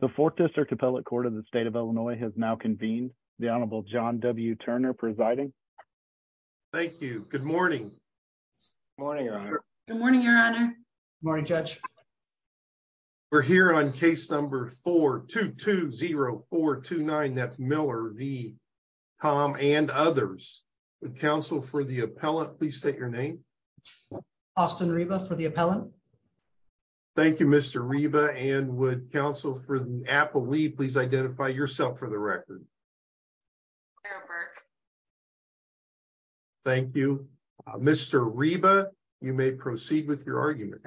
The Fourth District Appellate Court of the State of Illinois has now convened. The Honorable John W. Turner presiding. Thank you. Good morning. Morning, Your Honor. Good morning, Your Honor. Morning, Judge. We're here on case number 4-2-2-0-4-2-9. That's Miller v. Thom and others. Would counsel for the appellate please state your name? Austin Reba for the appellant. Thank you, Mr. Reba. And would counsel for the appellate please identify yourself for the record? Sarah Burke. Thank you. Mr. Reba, you may proceed with your argument.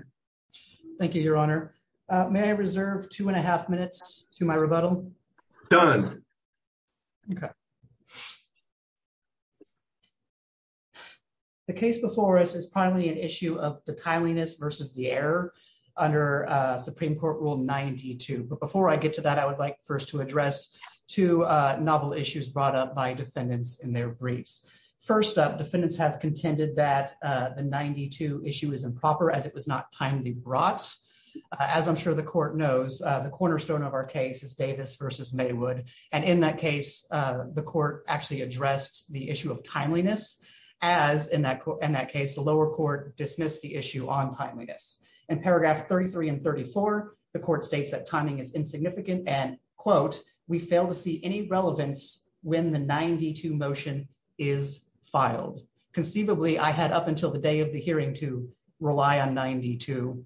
Thank you, Your Honor. May I reserve two and a half minutes to my rebuttal? Done. Okay. The case before us is primarily an issue of the timeliness versus the error under Supreme Court Rule 92. But before I get to that, I would like first to address two novel issues brought up by defendants in their briefs. First up, defendants have contended that the 92 issue is improper as it was not timely brought. As I'm sure the court knows, the cornerstone of our case is Davis v. Maywood. And in that case, the court actually addressed the issue of timeliness. As in that case, the lower court dismissed the issue on timeliness. In paragraph 33 and 34, the court states that timing is insignificant and, quote, we fail to see any relevance when the 92 motion is filed. Conceivably, I had up until the day of the hearing to rely on 92.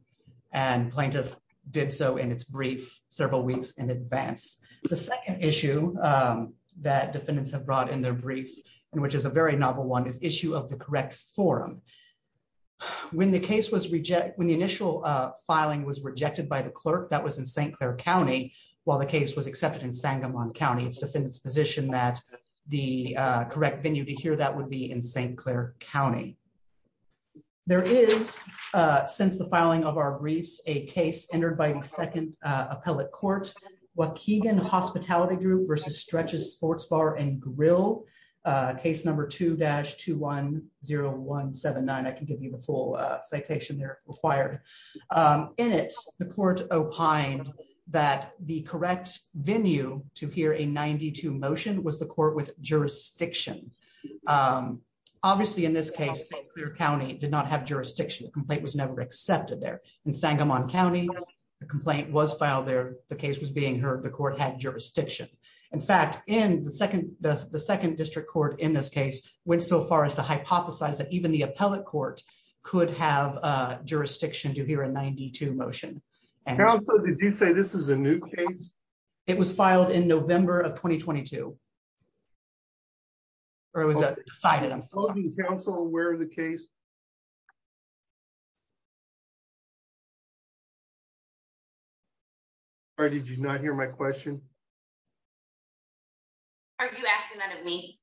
And plaintiff did so in its brief several weeks in advance. The second issue that defendants have brought in their brief, and which is a very novel one, is issue of the correct forum. When the case was rejected, when the initial filing was rejected by the clerk, that was in St. Clair County, while the case was accepted in Sangamon County, its defendants position that the correct venue to hear that would be in St. Clair County. There is, since the filing of our briefs, a case entered by the second appellate court, Waukegan Hospitality Group versus Stretches Sports Bar and Grill, case number 2-210179. I can give you the full citation there if required. In it, the court opined that the correct venue to hear a 92 motion was the court with jurisdiction. Obviously, in this case, St. Clair County did not have jurisdiction. The complaint was never accepted there. In Sangamon County, the complaint was filed there. The case was being heard. The court had jurisdiction. In fact, the second district court in this case went so far as to hypothesize that even the appellate court could have jurisdiction to hear a 92 motion. Did you say this is a new case? It was filed in November of 2022. Or was it decided? I'm so sorry. Is the council aware of the case? Or did you not hear my question? Are you asking that of me?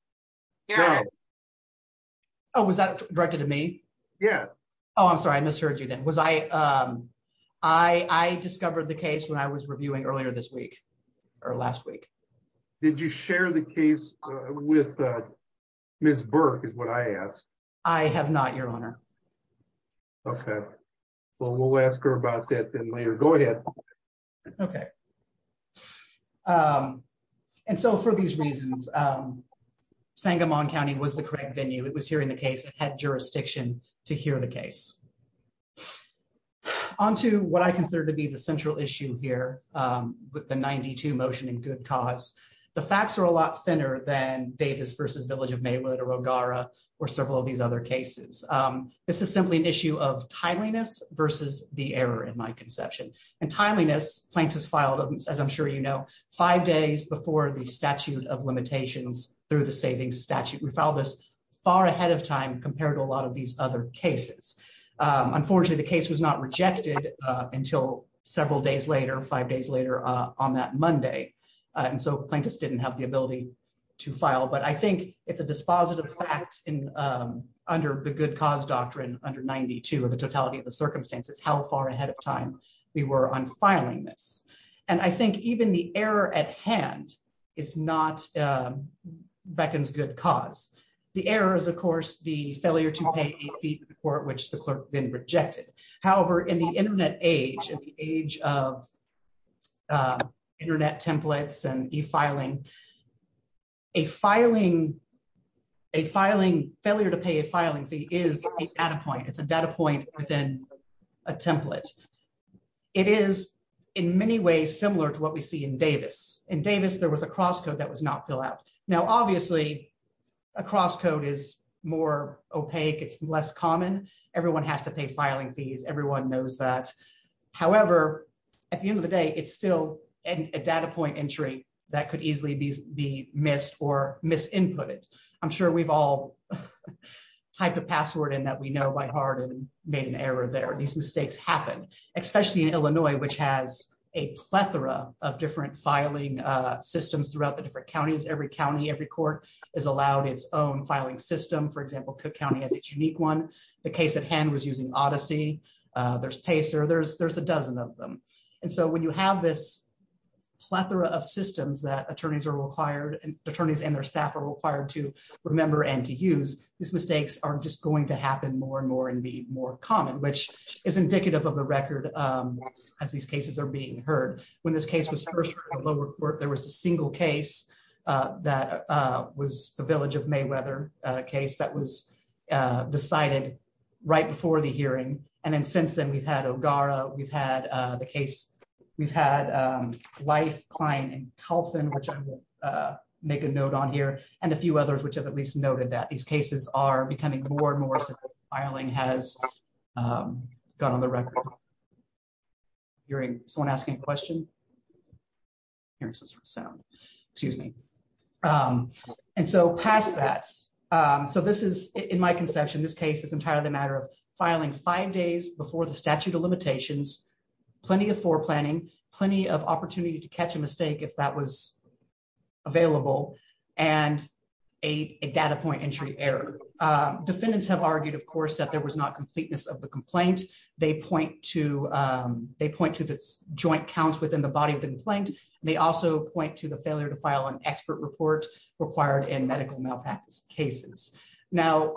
No. Oh, was that directed to me? Yeah. Oh, I'm sorry. I misheard you then. I discovered the case when I was reviewing earlier this week or last week. Did you share the case with Ms. Burke is what I asked? I have not, Your Honor. Okay. Well, we'll ask her about that then later. Go ahead. Okay. And so for these reasons, Sangamon County was the correct venue. It was hearing the case. It had jurisdiction to hear the case. On to what I consider to be the central issue here with the 92 motion and good cause. The facts are a lot thinner than Davis versus Village of Maywood or Ogara or several of these other cases. This is simply an issue of timeliness versus the error in my conception and timeliness. Plaintiffs filed, as I'm sure, you know, five days before the statute of limitations through the savings statute. We found this far ahead of time compared to a lot of these other cases. Unfortunately, the case was not rejected until several days later, five days later on that Monday. And so plaintiffs didn't have the ability to file. But I think it's a dispositive fact in under the good cause doctrine under 92 of the totality of the circumstances, how far ahead of time we were on filing this. And I think even the error at hand is not beckons good cause. The error is, of course, the failure to pay a fee to the court, which the clerk then rejected. However, in the Internet age, in the age of Internet templates and e-filing, a filing, a filing, failure to pay a filing fee is a data point. It's a data point within a template. It is in many ways similar to what we see in Davis. In Davis, there was a cross code that was not filled out. Now, obviously, a cross code is more opaque. It's less common. Everyone has to pay filing fees. Everyone knows that. However, at the end of the day, it's still a data point entry that could easily be missed or mis-inputted. I'm sure we've all typed a password in that we know by heart and made an error there. These mistakes happen, especially in Illinois, which has a plethora of different filing systems throughout the different counties. Every county, every court is allowed its own filing system. For example, Cook County has its unique one. The case at hand was using Odyssey. There's Pacer. There's a dozen of them. And so when you have this plethora of systems that attorneys and their staff are required to remember and to use, these mistakes are just going to happen more and more and be more common, which is indicative of the record as these cases are being heard. When this case was first heard, there was a single case that was the Village of Mayweather case that was decided right before the hearing. And then since then, we've had O'Gara. We've had the case. We've had Life, Klein, and Telfin, which I will make a note on here, and a few others which have at least noted that. These cases are becoming more and more so. Filing has gone on the record. Hearing someone asking a question? Hearing some sort of sound. Excuse me. And so past that, so this is, in my conception, this case is entirely a matter of filing five days before the statute of limitations. Plenty of foreplanning, plenty of opportunity to catch a mistake if that was available, and a data point entry error. Defendants have argued, of course, that there was not completeness of the complaint. They point to the joint counts within the body of the complaint. They also point to the failure to file an expert report required in medical malpractice cases. Now,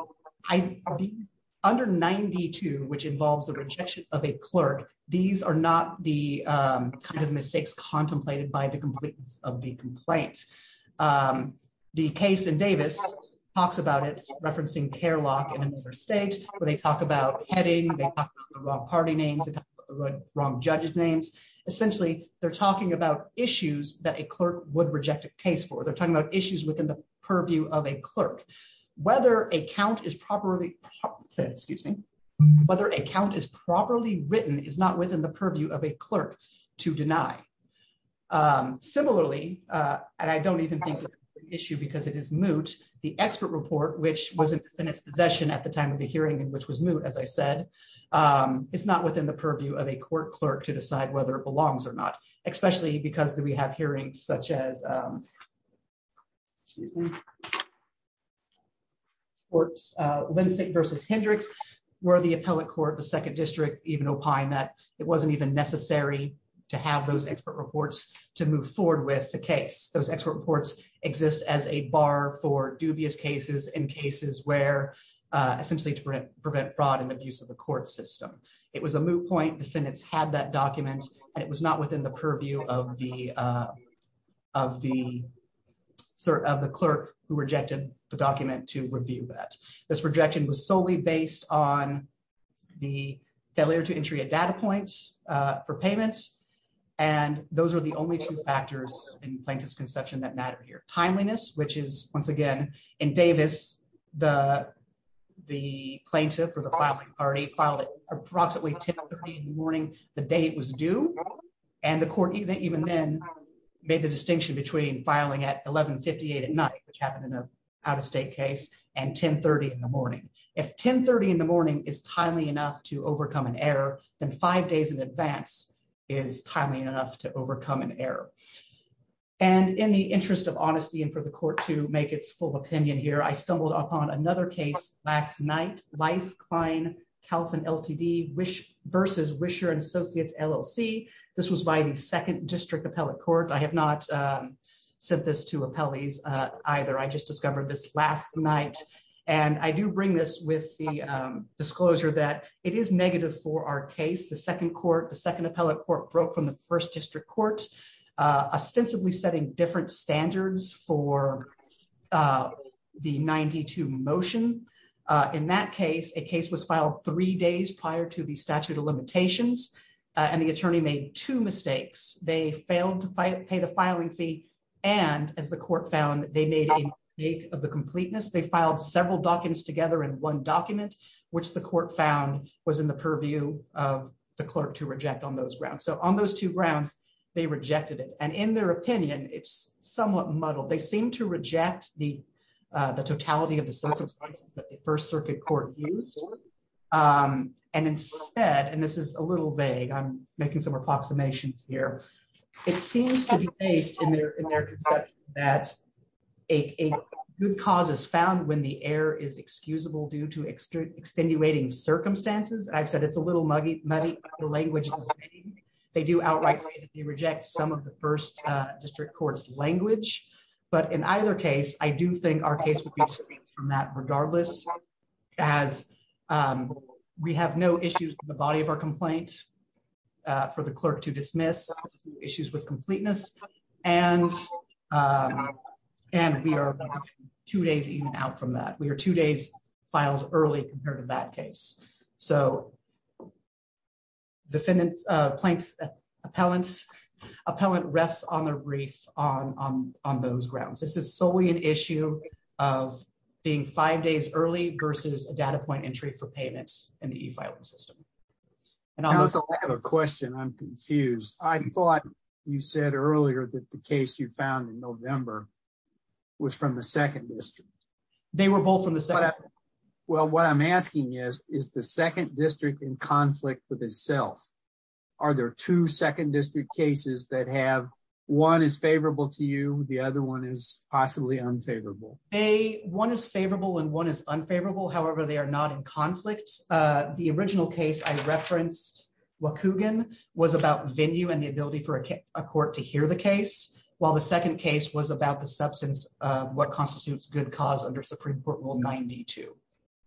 under 92, which involves the rejection of a clerk, these are not the kind of mistakes contemplated by the completeness of the complaint. The case in Davis talks about it, referencing Kerlock in another state, where they talk about heading, they talk about the wrong party names, they talk about the wrong judge's names. Essentially, they're talking about issues that a clerk would reject a case for. They're talking about issues within the purview of a clerk. Whether a count is properly written is not within the purview of a clerk to deny. Similarly, and I don't even think it's an issue because it is moot, the expert report, which was in defendant's possession at the time of the hearing and which was moot, as I said, is not within the purview of a court clerk to decide whether it belongs or not, especially because we have hearings such as Lansing v. Hendricks, where the appellate court, the second district, even opined that it wasn't even necessary to have those expert reports to move forward with the case. Those expert reports exist as a bar for dubious cases and cases where, essentially, to prevent fraud and abuse of the court system. It was a moot point, defendants had that document, and it was not within the purview of the clerk who rejected the document to review that. This rejection was solely based on the failure to entry a data point for payment, and those are the only two factors in plaintiff's conception that matter here. Timeliness, which is, once again, in Davis, the plaintiff or the filing party filed at approximately 10.30 in the morning the day it was due, and the court even then made the distinction between filing at 11.58 at night, which happened in an out-of-state case, and 10.30 in the morning. If 10.30 in the morning is timely enough to overcome an error, then five days in advance is timely enough to overcome an error. And in the interest of honesty and for the court to make its full opinion here, I stumbled upon another case last night, Leif Klein, Calvin LTD v. Wisher & Associates, LLC. This was by the 2nd District Appellate Court. I have not sent this to appellees either. I just discovered this last night. And I do bring this with the disclosure that it is negative for our case. The 2nd Court, the 2nd Appellate Court, broke from the 1st District Court, ostensibly setting different standards for the 92 motion. In that case, a case was filed three days prior to the statute of limitations, and the attorney made two mistakes. They failed to pay the filing fee, and as the court found, they made a mistake of the completeness. They filed several documents together in one document, which the court found was in the purview of the clerk to reject on those grounds. So on those two grounds, they rejected it. And in their opinion, it's somewhat muddled. They seem to reject the totality of the circumstances that the 1st Circuit Court used. And instead, and this is a little vague, I'm making some approximations here. It seems to be based in their conception that a good cause is found when the error is excusable due to extenuating circumstances. And I've said it's a little muddy. The language is vague. They do outright say that they reject some of the 1st District Court's language. But in either case, I do think our case would be excused from that regardless, as we have no issues with the body of our complaint for the clerk to dismiss, issues with completeness. And we are two days even out from that. We are two days filed early compared to that case. So defendant, plaintiff, appellant rests on the reef on those grounds. This is solely an issue of being five days early versus a data point entry for payments in the e-filing system. I have a question. I'm confused. I thought you said earlier that the case you found in November was from the 2nd District. Well, what I'm asking is, is the 2nd District in conflict with itself? Are there two 2nd District cases that have one is favorable to you, the other one is possibly unfavorable? One is favorable and one is unfavorable. However, they are not in conflict. The original case I referenced, Wacoogan, was about venue and the ability for a court to hear the case, while the second case was about the substance of what constitutes good cause under Supreme Court Rule 92.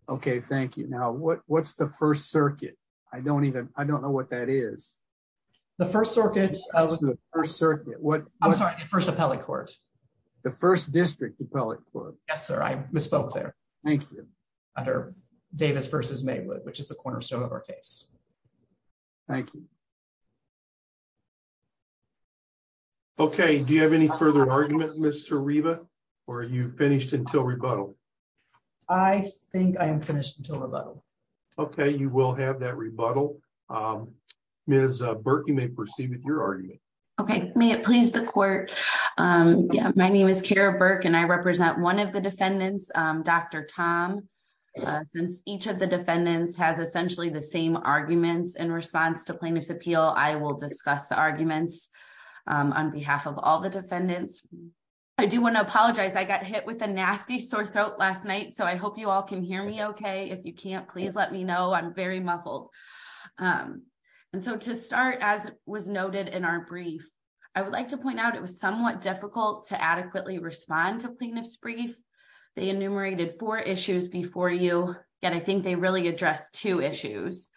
Okay, thank you. Now, what's the 1st Circuit? I don't even, I don't know what that is. The 1st Circuit. I'm sorry, the 1st Appellate Court. The 1st District Appellate Court. Yes, sir. I misspoke there. Thank you. Under Davis v. Maywood, which is the cornerstone of our case. Thank you. Okay, do you have any further argument, Mr. Riva? Or are you finished until rebuttal? I think I am finished until rebuttal. Okay, you will have that rebuttal. Ms. Burke, you may proceed with your argument. Okay, may it please the court. My name is Kara Burke and I represent one of the defendants, Dr. Tom. Since each of the defendants has essentially the same arguments in response to plaintiff's appeal, I will discuss the arguments on behalf of all the defendants. I do want to apologize I got hit with a nasty sore throat last night so I hope you all can hear me okay if you can't please let me know I'm very muffled. And so to start as was noted in our brief, I would like to point out it was somewhat difficult to adequately respond to plaintiff's brief. They enumerated four issues before you, and I think they really address two issues.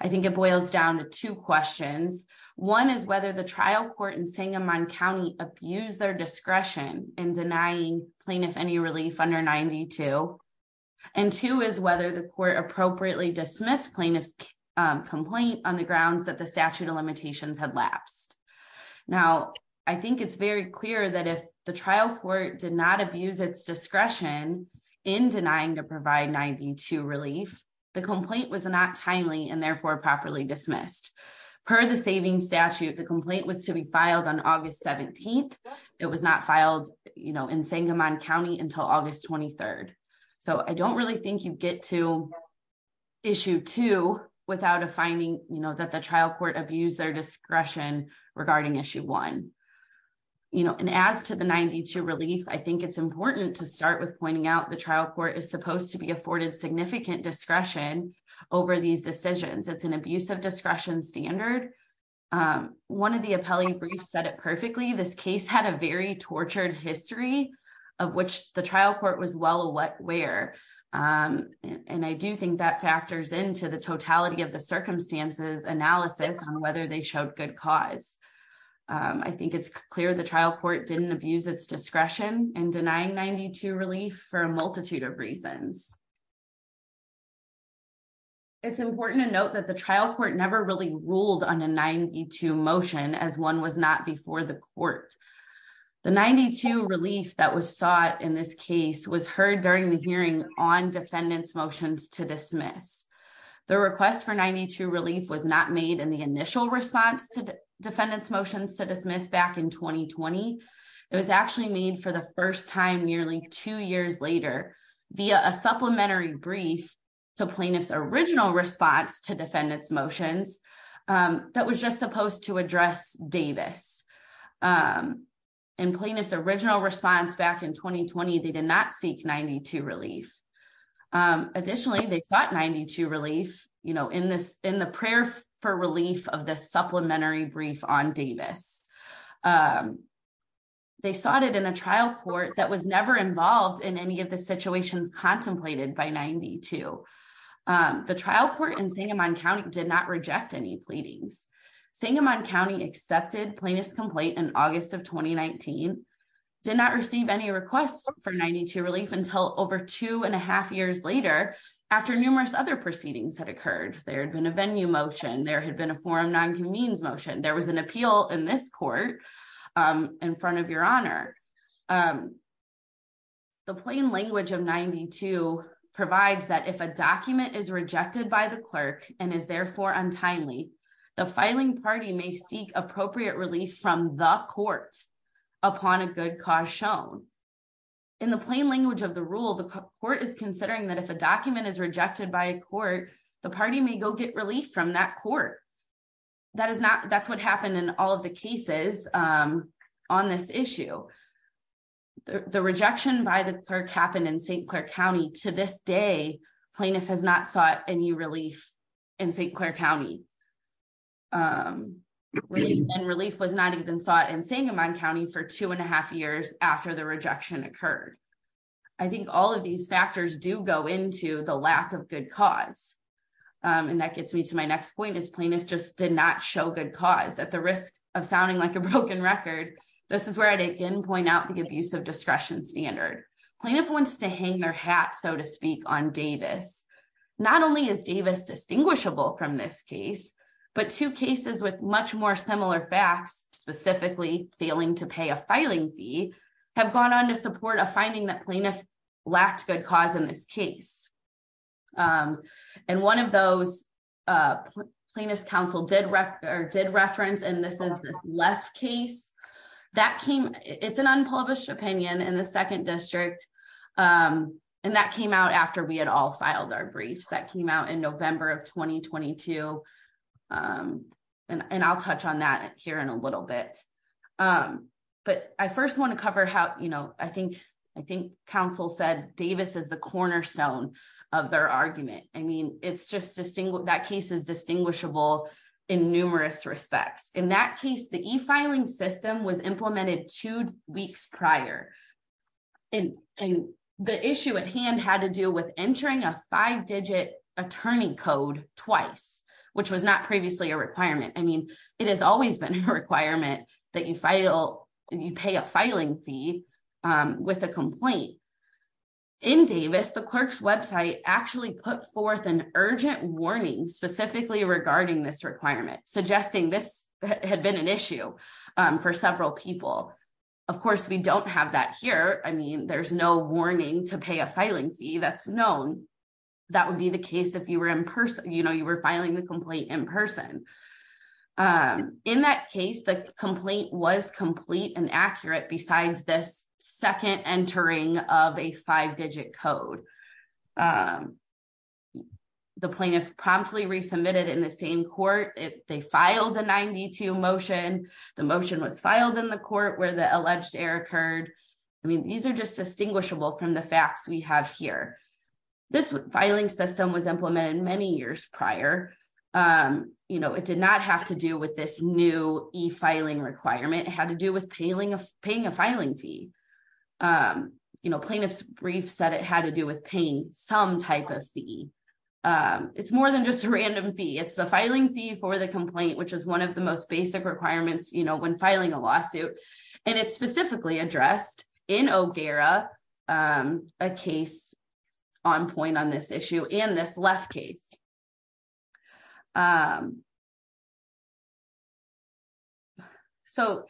I think it boils down to two questions. One is whether the trial court in Sangamon County abused their discretion in denying plaintiff any relief under 92. And two is whether the court appropriately dismissed plaintiff's complaint on the grounds that the statute of limitations had lapsed. Now, I think it's very clear that if the trial court did not abuse its discretion in denying to provide 92 relief, the complaint was not timely and therefore properly dismissed. Per the savings statute, the complaint was to be filed on August 17th. It was not filed, you know, in Sangamon County until August 23rd. So I don't really think you get to issue two without a finding, you know, that the trial court abused their discretion regarding issue one. And as to the 92 relief, I think it's important to start with pointing out the trial court is supposed to be afforded significant discretion over these decisions. It's an abusive discretion standard. One of the appellee briefs said it perfectly. This case had a very tortured history of which the trial court was well aware. And I do think that factors into the totality of the circumstances analysis on whether they showed good cause. I think it's clear the trial court didn't abuse its discretion and denying 92 relief for a multitude of reasons. It's important to note that the trial court never really ruled on a 92 motion as one was not before the court. The 92 relief that was sought in this case was heard during the hearing on defendants motions to dismiss. The request for 92 relief was not made in the initial response to defendants motions to dismiss back in 2020. It was actually made for the first time nearly two years later via a supplementary brief to plaintiff's original response to defendants motions that was just supposed to address Davis and plaintiff's original response back in 2020. They did not seek 92 relief. Additionally, they sought 92 relief in the prayer for relief of the supplementary brief on Davis. They sought it in a trial court that was never involved in any of the situations contemplated by 92. The trial court in Sangamon County did not reject any pleadings. Sangamon County accepted plaintiff's complaint in August of 2019, did not receive any requests for 92 relief until over two and a half years later after numerous other proceedings had occurred. There had been a venue motion, there had been a forum non-convenes motion, there was an appeal in this court in front of your honor. The plain language of 92 provides that if a document is rejected by the clerk and is therefore untimely, the filing party may seek appropriate relief from the court upon a good cause shown. In the plain language of the rule, the court is considering that if a document is rejected by a court, the party may go get relief from that court. That's what happened in all of the cases on this issue. The rejection by the clerk happened in St. Clair County. To this day, plaintiff has not sought any relief in St. Clair County. Relief was not even sought in Sangamon County for two and a half years after the rejection occurred. I think all of these factors do go into the lack of good cause. And that gets me to my next point is plaintiff just did not show good cause. At the risk of sounding like a broken record, this is where I'd again point out the abuse of discretion standard. Plaintiff wants to hang their hat, so to speak, on Davis. Not only is Davis distinguishable from this case, but two cases with much more similar facts, specifically failing to pay a filing fee, have gone on to support a finding that plaintiff lacked good cause in this case. And one of those plaintiff's counsel did reference, and this is the left case. It's an unpublished opinion in the second district, and that came out after we had all filed our briefs. That came out in November of 2022, and I'll touch on that here in a little bit. But I first want to cover how I think counsel said Davis is the cornerstone of their argument. I mean, that case is distinguishable in numerous respects. In that case, the e-filing system was implemented two weeks prior, and the issue at hand had to do with entering a five-digit attorney code twice, which was not previously a requirement. I mean, it has always been a requirement that you pay a filing fee with a complaint. In Davis, the clerk's website actually put forth an urgent warning specifically regarding this requirement, suggesting this had been an issue for several people. Of course, we don't have that here. I mean, there's no warning to pay a filing fee that's known. That would be the case if you were filing the complaint in person. In that case, the complaint was complete and accurate besides this second entering of a five-digit code. The plaintiff promptly resubmitted in the same court. They filed a 92 motion. The motion was filed in the court where the alleged error occurred. I mean, these are just distinguishable from the facts we have here. This filing system was implemented many years prior. It did not have to do with this new e-filing requirement. It had to do with paying a filing fee. Plaintiff's brief said it had to do with paying some type of fee. It's more than just a random fee. It's the filing fee for the complaint, which is one of the most basic requirements when filing a lawsuit, and it's specifically addressed in O'Gara, a case on point on this issue, and this left case. So,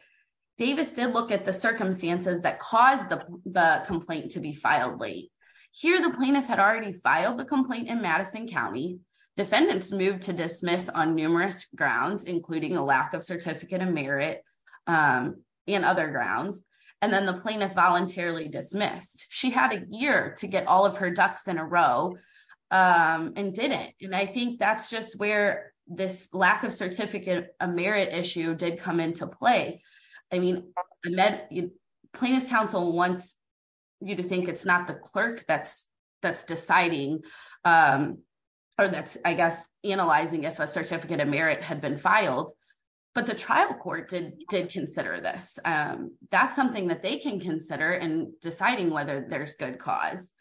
Davis did look at the circumstances that caused the complaint to be filed late. Here, the plaintiff had already filed the complaint in Madison County. Defendants moved to dismiss on numerous grounds, including a lack of certificate of merit and other grounds, and then the plaintiff voluntarily dismissed. She had a year to get all of her ducks in a row and didn't. And I think that's just where this lack of certificate of merit issue did come into play. I mean, plaintiff's counsel wants you to think it's not the clerk that's deciding or that's, I guess, analyzing if a certificate of merit had been filed, but the trial court did consider this. That's something that they can consider in deciding whether there's good cause.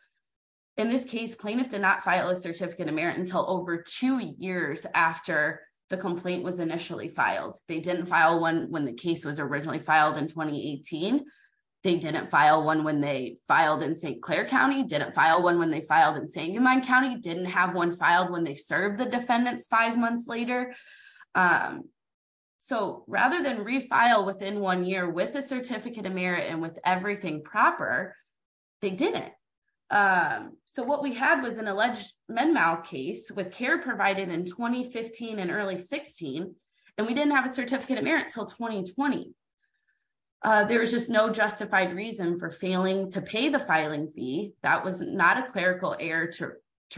In this case, plaintiff did not file a certificate of merit until over two years after the complaint was initially filed. They didn't file one when the case was originally filed in 2018. They didn't file one when they filed in St. Clair County, didn't file one when they filed in Sangamon County, didn't have one filed when they served the defendants five months later. So rather than refile within one year with a certificate of merit and with everything proper, they didn't. So what we had was an alleged med mal case with care provided in 2015 and early 16, and we didn't have a certificate of merit until 2020. There was just no justified reason for failing to pay the filing fee. That was not a clerical error to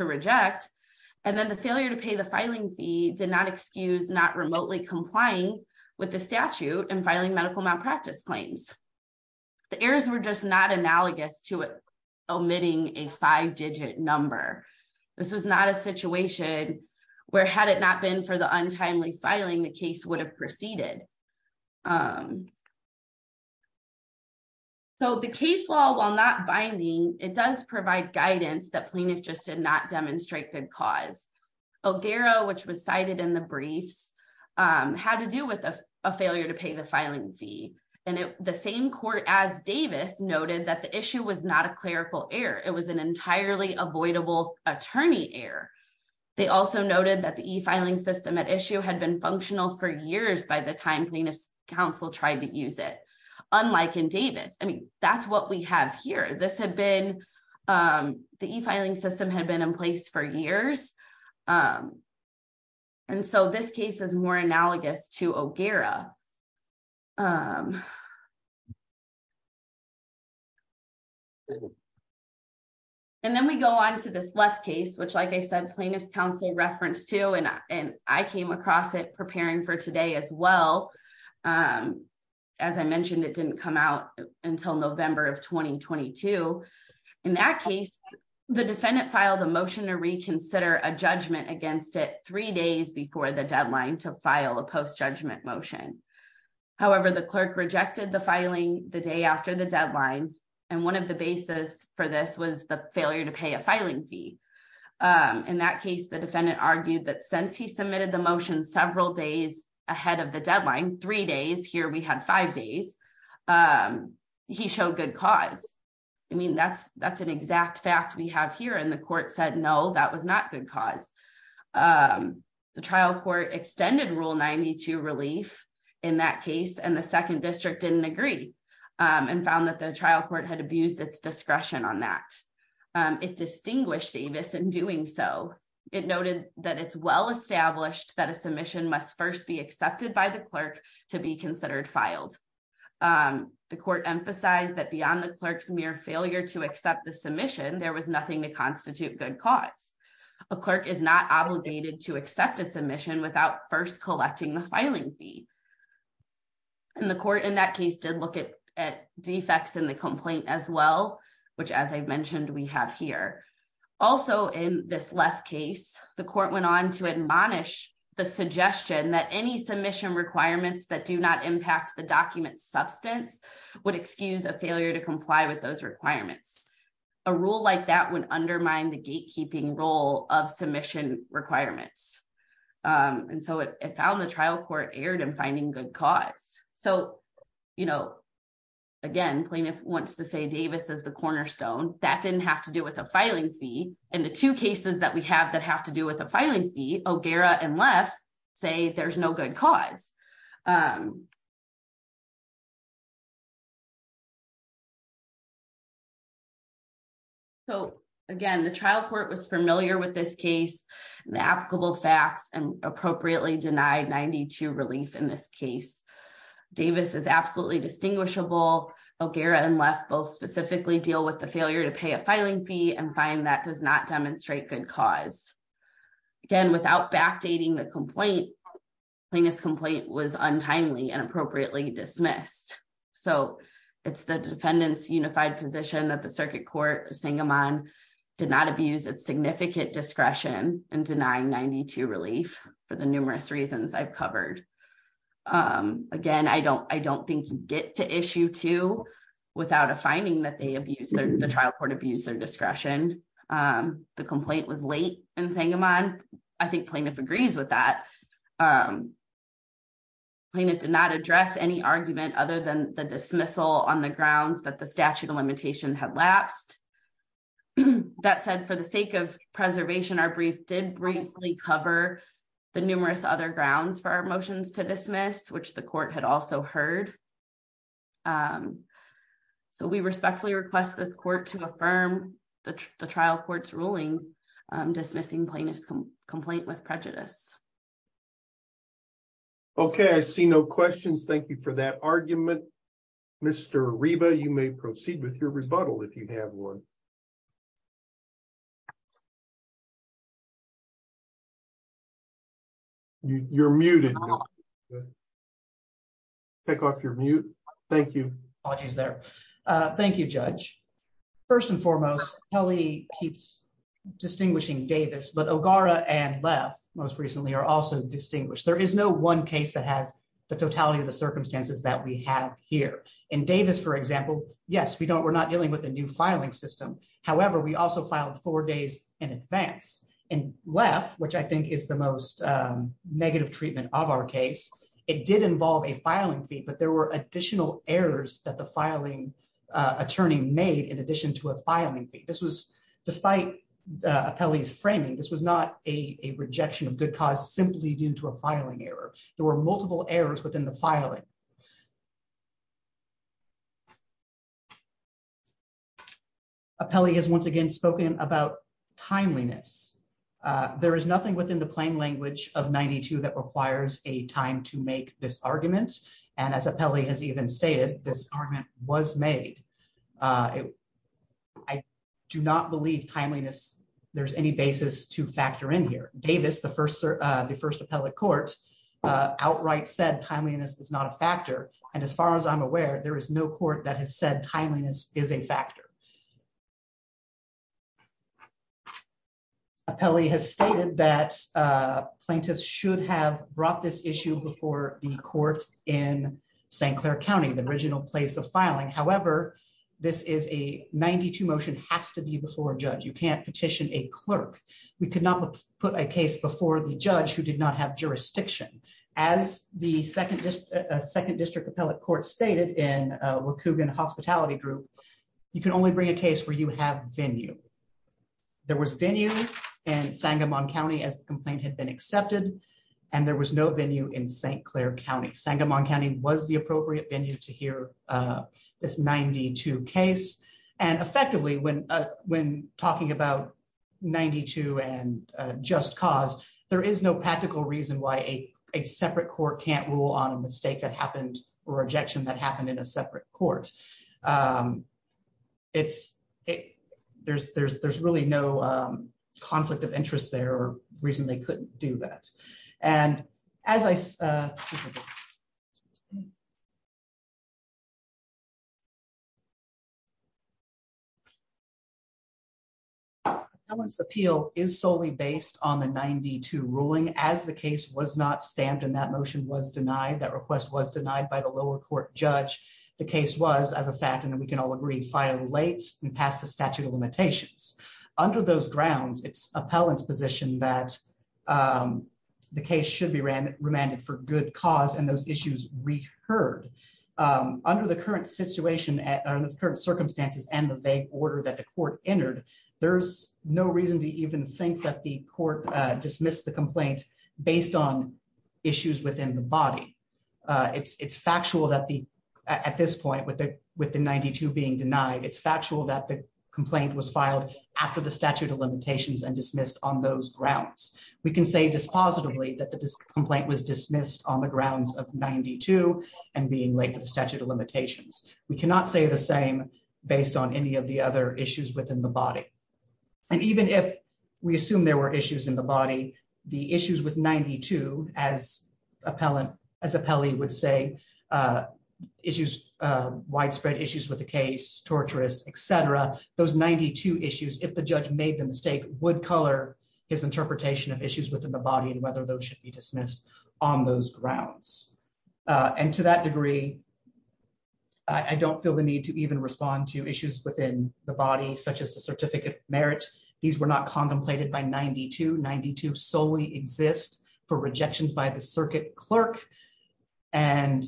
reject. And then the failure to pay the filing fee did not excuse not remotely complying with the statute and filing medical malpractice claims. The errors were just not analogous to omitting a five-digit number. This was not a situation where, had it not been for the untimely filing, the case would have proceeded. So the case law, while not binding, it does provide guidance that plaintiffs just did not demonstrate good cause. O'Gara, which was cited in the briefs, had to do with a failure to pay the filing fee. And the same court as Davis noted that the issue was not a clerical error. It was an entirely avoidable attorney error. They also noted that the e-filing system at issue had been functional for years by the time plaintiffs' counsel tried to use it, unlike in Davis. I mean, that's what we have here. This had been, the e-filing system had been in place for years. And so this case is more analogous to O'Gara. And then we go on to this left case, which, like I said, plaintiffs' counsel referenced too, and I came across it preparing for today as well. As I mentioned, it didn't come out until November of 2022. In that case, the defendant filed a motion to reconsider a judgment against it three days before the deadline to file a post-judgment motion. However, the clerk rejected the filing the day after the deadline, and one of the basis for this was the failure to pay a filing fee. In that case, the defendant argued that since he submitted the motion several days ahead of the deadline, three days, here we had five days, he showed good cause. I mean, that's an exact fact we have here, and the court said, no, that was not good cause. The trial court extended Rule 92 relief in that case, and the second district didn't agree and found that the trial court had abused its discretion on that. It distinguished Davis in doing so. It noted that it's well established that a submission must first be accepted by the clerk to be considered filed. The court emphasized that beyond the clerk's mere failure to accept the submission, there was nothing to constitute good cause. A clerk is not obligated to accept a submission without first collecting the filing fee. And the court in that case did look at defects in the complaint as well, which, as I mentioned, we have here. Also, in this left case, the court went on to admonish the suggestion that any submission requirements that do not impact the document's substance would excuse a failure to comply with those requirements. A rule like that would undermine the gatekeeping role of submission requirements. And so it found the trial court erred in finding good cause. So, you know, again, plaintiff wants to say Davis is the cornerstone. That didn't have to do with a filing fee. And the two cases that we have that have to do with the filing fee, O'Gara and Leff, say there's no good cause. So, again, the trial court was familiar with this case, the applicable facts and appropriately denied 92 relief in this case. Davis is absolutely distinguishable. O'Gara and Leff both specifically deal with the failure to pay a filing fee and find that does not demonstrate good cause. Again, without backdating the complaint, plaintiff's complaint was untimely and appropriately dismissed. So it's the defendant's unified position that the circuit court, Singamon, did not abuse its significant discretion in denying 92 relief for the numerous reasons I've covered. Again, I don't think you get to issue two without a finding that the trial court abused their discretion. The complaint was late in Singamon. I think plaintiff agrees with that. Plaintiff did not address any argument other than the dismissal on the grounds that the statute of limitation had lapsed. That said, for the sake of preservation, our brief did briefly cover the numerous other grounds for our motions to dismiss, which the court had also heard. So we respectfully request this court to affirm the trial court's ruling dismissing plaintiff's complaint with prejudice. Okay, I see no questions. Thank you for that argument. Mr. Reba, you may proceed with your rebuttal if you have one. You're muted. Take off your mute. Thank you. Thank you, Judge. First and foremost, Kelly keeps distinguishing Davis but O'Gara and left most recently are also distinguished there is no one case that has the totality of the circumstances that we have here in Davis, for example, yes we don't we're not dealing with a new filing system. However, we also filed four days in advance and left which I think is the most negative treatment of our case. It did involve a filing fee but there were additional errors that the filing attorney made in addition to a filing fee. This was despite Kelly's framing this was not a rejection of good cause simply due to a filing error. There were multiple errors within the filing. Kelly has once again spoken about timeliness. There is nothing within the plain language of 92 that requires a time to make this argument. And as a Pele has even stated this argument was made. I do not believe timeliness. There's any basis to factor in here, Davis, the first, the first appellate court outright said timeliness is not a factor. And as far as I'm aware, there is no court that has said timeliness is a factor. Kelly has stated that plaintiffs should have brought this issue before the court in St. Clair County, the original place of filing. However, this is a 92 motion has to be before judge you can't petition a clerk. We cannot put a case before the judge who did not have jurisdiction as the second just a second district appellate court stated in what Coogan hospitality group. You can only bring a case where you have venue. There was venue and Sangamon County as complaint had been accepted. And there was no venue in St. Clair County Sangamon County was the appropriate venue to hear this 92 case. And effectively when when talking about 92 and just cause there is no practical reason why a separate court can't rule on a mistake that happened or rejection that happened in a separate court. It's, there's, there's, there's really no conflict of interest there recently couldn't do that. And as I So, once appeal is solely based on the 92 ruling as the case was not stamped in that motion was denied that request was denied by the lower court judge. The case was as a fact and then we can all agree file late and pass the statute of limitations. Under those grounds, it's appellants position that the case should be ran remanded for good cause and those issues re heard under the current situation and the current circumstances and the vague order that the court entered. There's no reason to even think that the court dismissed the complaint, based on issues within the body. It's factual that the at this point with the with the 92 being denied it's factual that the complaint was filed after the statute of limitations and dismissed on those grounds. We can say dispositively that the complaint was dismissed on the grounds of 92 and being late for the statute of limitations, we cannot say the same, based on any of the other issues within the body. And even if we assume there were issues in the body, the issues with 92 as appellant as a Pele would say issues widespread issues with the case torturous etc. Those 92 issues if the judge made the mistake would color is interpretation of issues within the body and whether those should be dismissed on those grounds. And to that degree. I don't feel the need to even respond to issues within the body such as the certificate merit. These were not contemplated by 92 92 solely exist for rejections by the circuit clerk and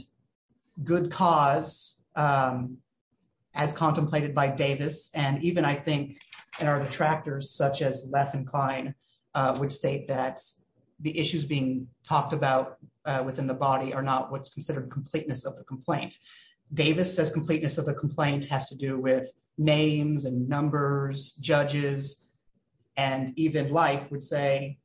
good cause, as contemplated by Davis, and even I think, and are the completeness of the complaint. Davis says completeness of the complaint has to do with names and numbers, judges, and even life would say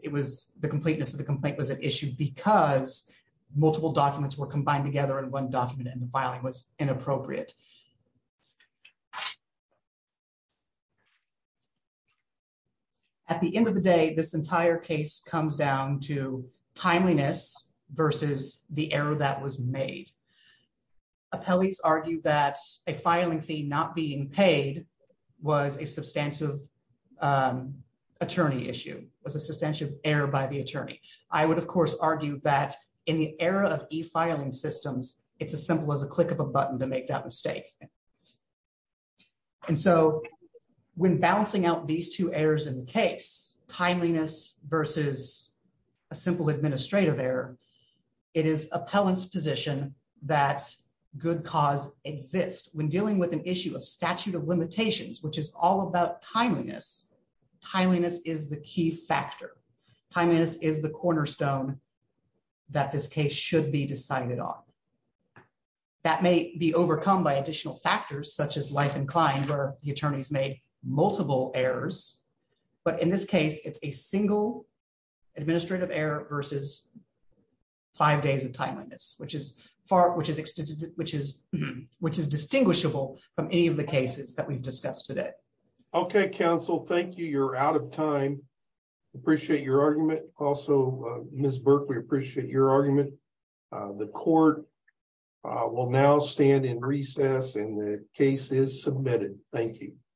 it was the completeness of the complaint was an issue because multiple documents were combined together and one document in the filing was inappropriate. At the end of the day, this entire case comes down to timeliness versus the error that was made. Appellate argue that a filing fee not being paid was a substantive Attorney issue was a substantial error by the attorney, I would of course argue that in the era of a filing systems. It's as simple as a click of a button to make that mistake. And so, when balancing out these two errors in case timeliness versus a simple administrative error. It is appellants position that good cause exists when dealing with an issue of statute of limitations, which is all about timeliness timeliness is the key factor timeliness is the cornerstone that this case should be decided on. That may be overcome by additional factors such as life inclined or the attorneys made multiple errors, but in this case it's a single administrative error versus five days of timeliness, which is far, which is, which is, which is distinguishable from any of the cases that we've discussed today. Okay, counsel. Thank you. You're out of time. Appreciate your argument. Also, Miss Berkeley appreciate your argument. The court will now stand in recess and the case is submitted. Thank you.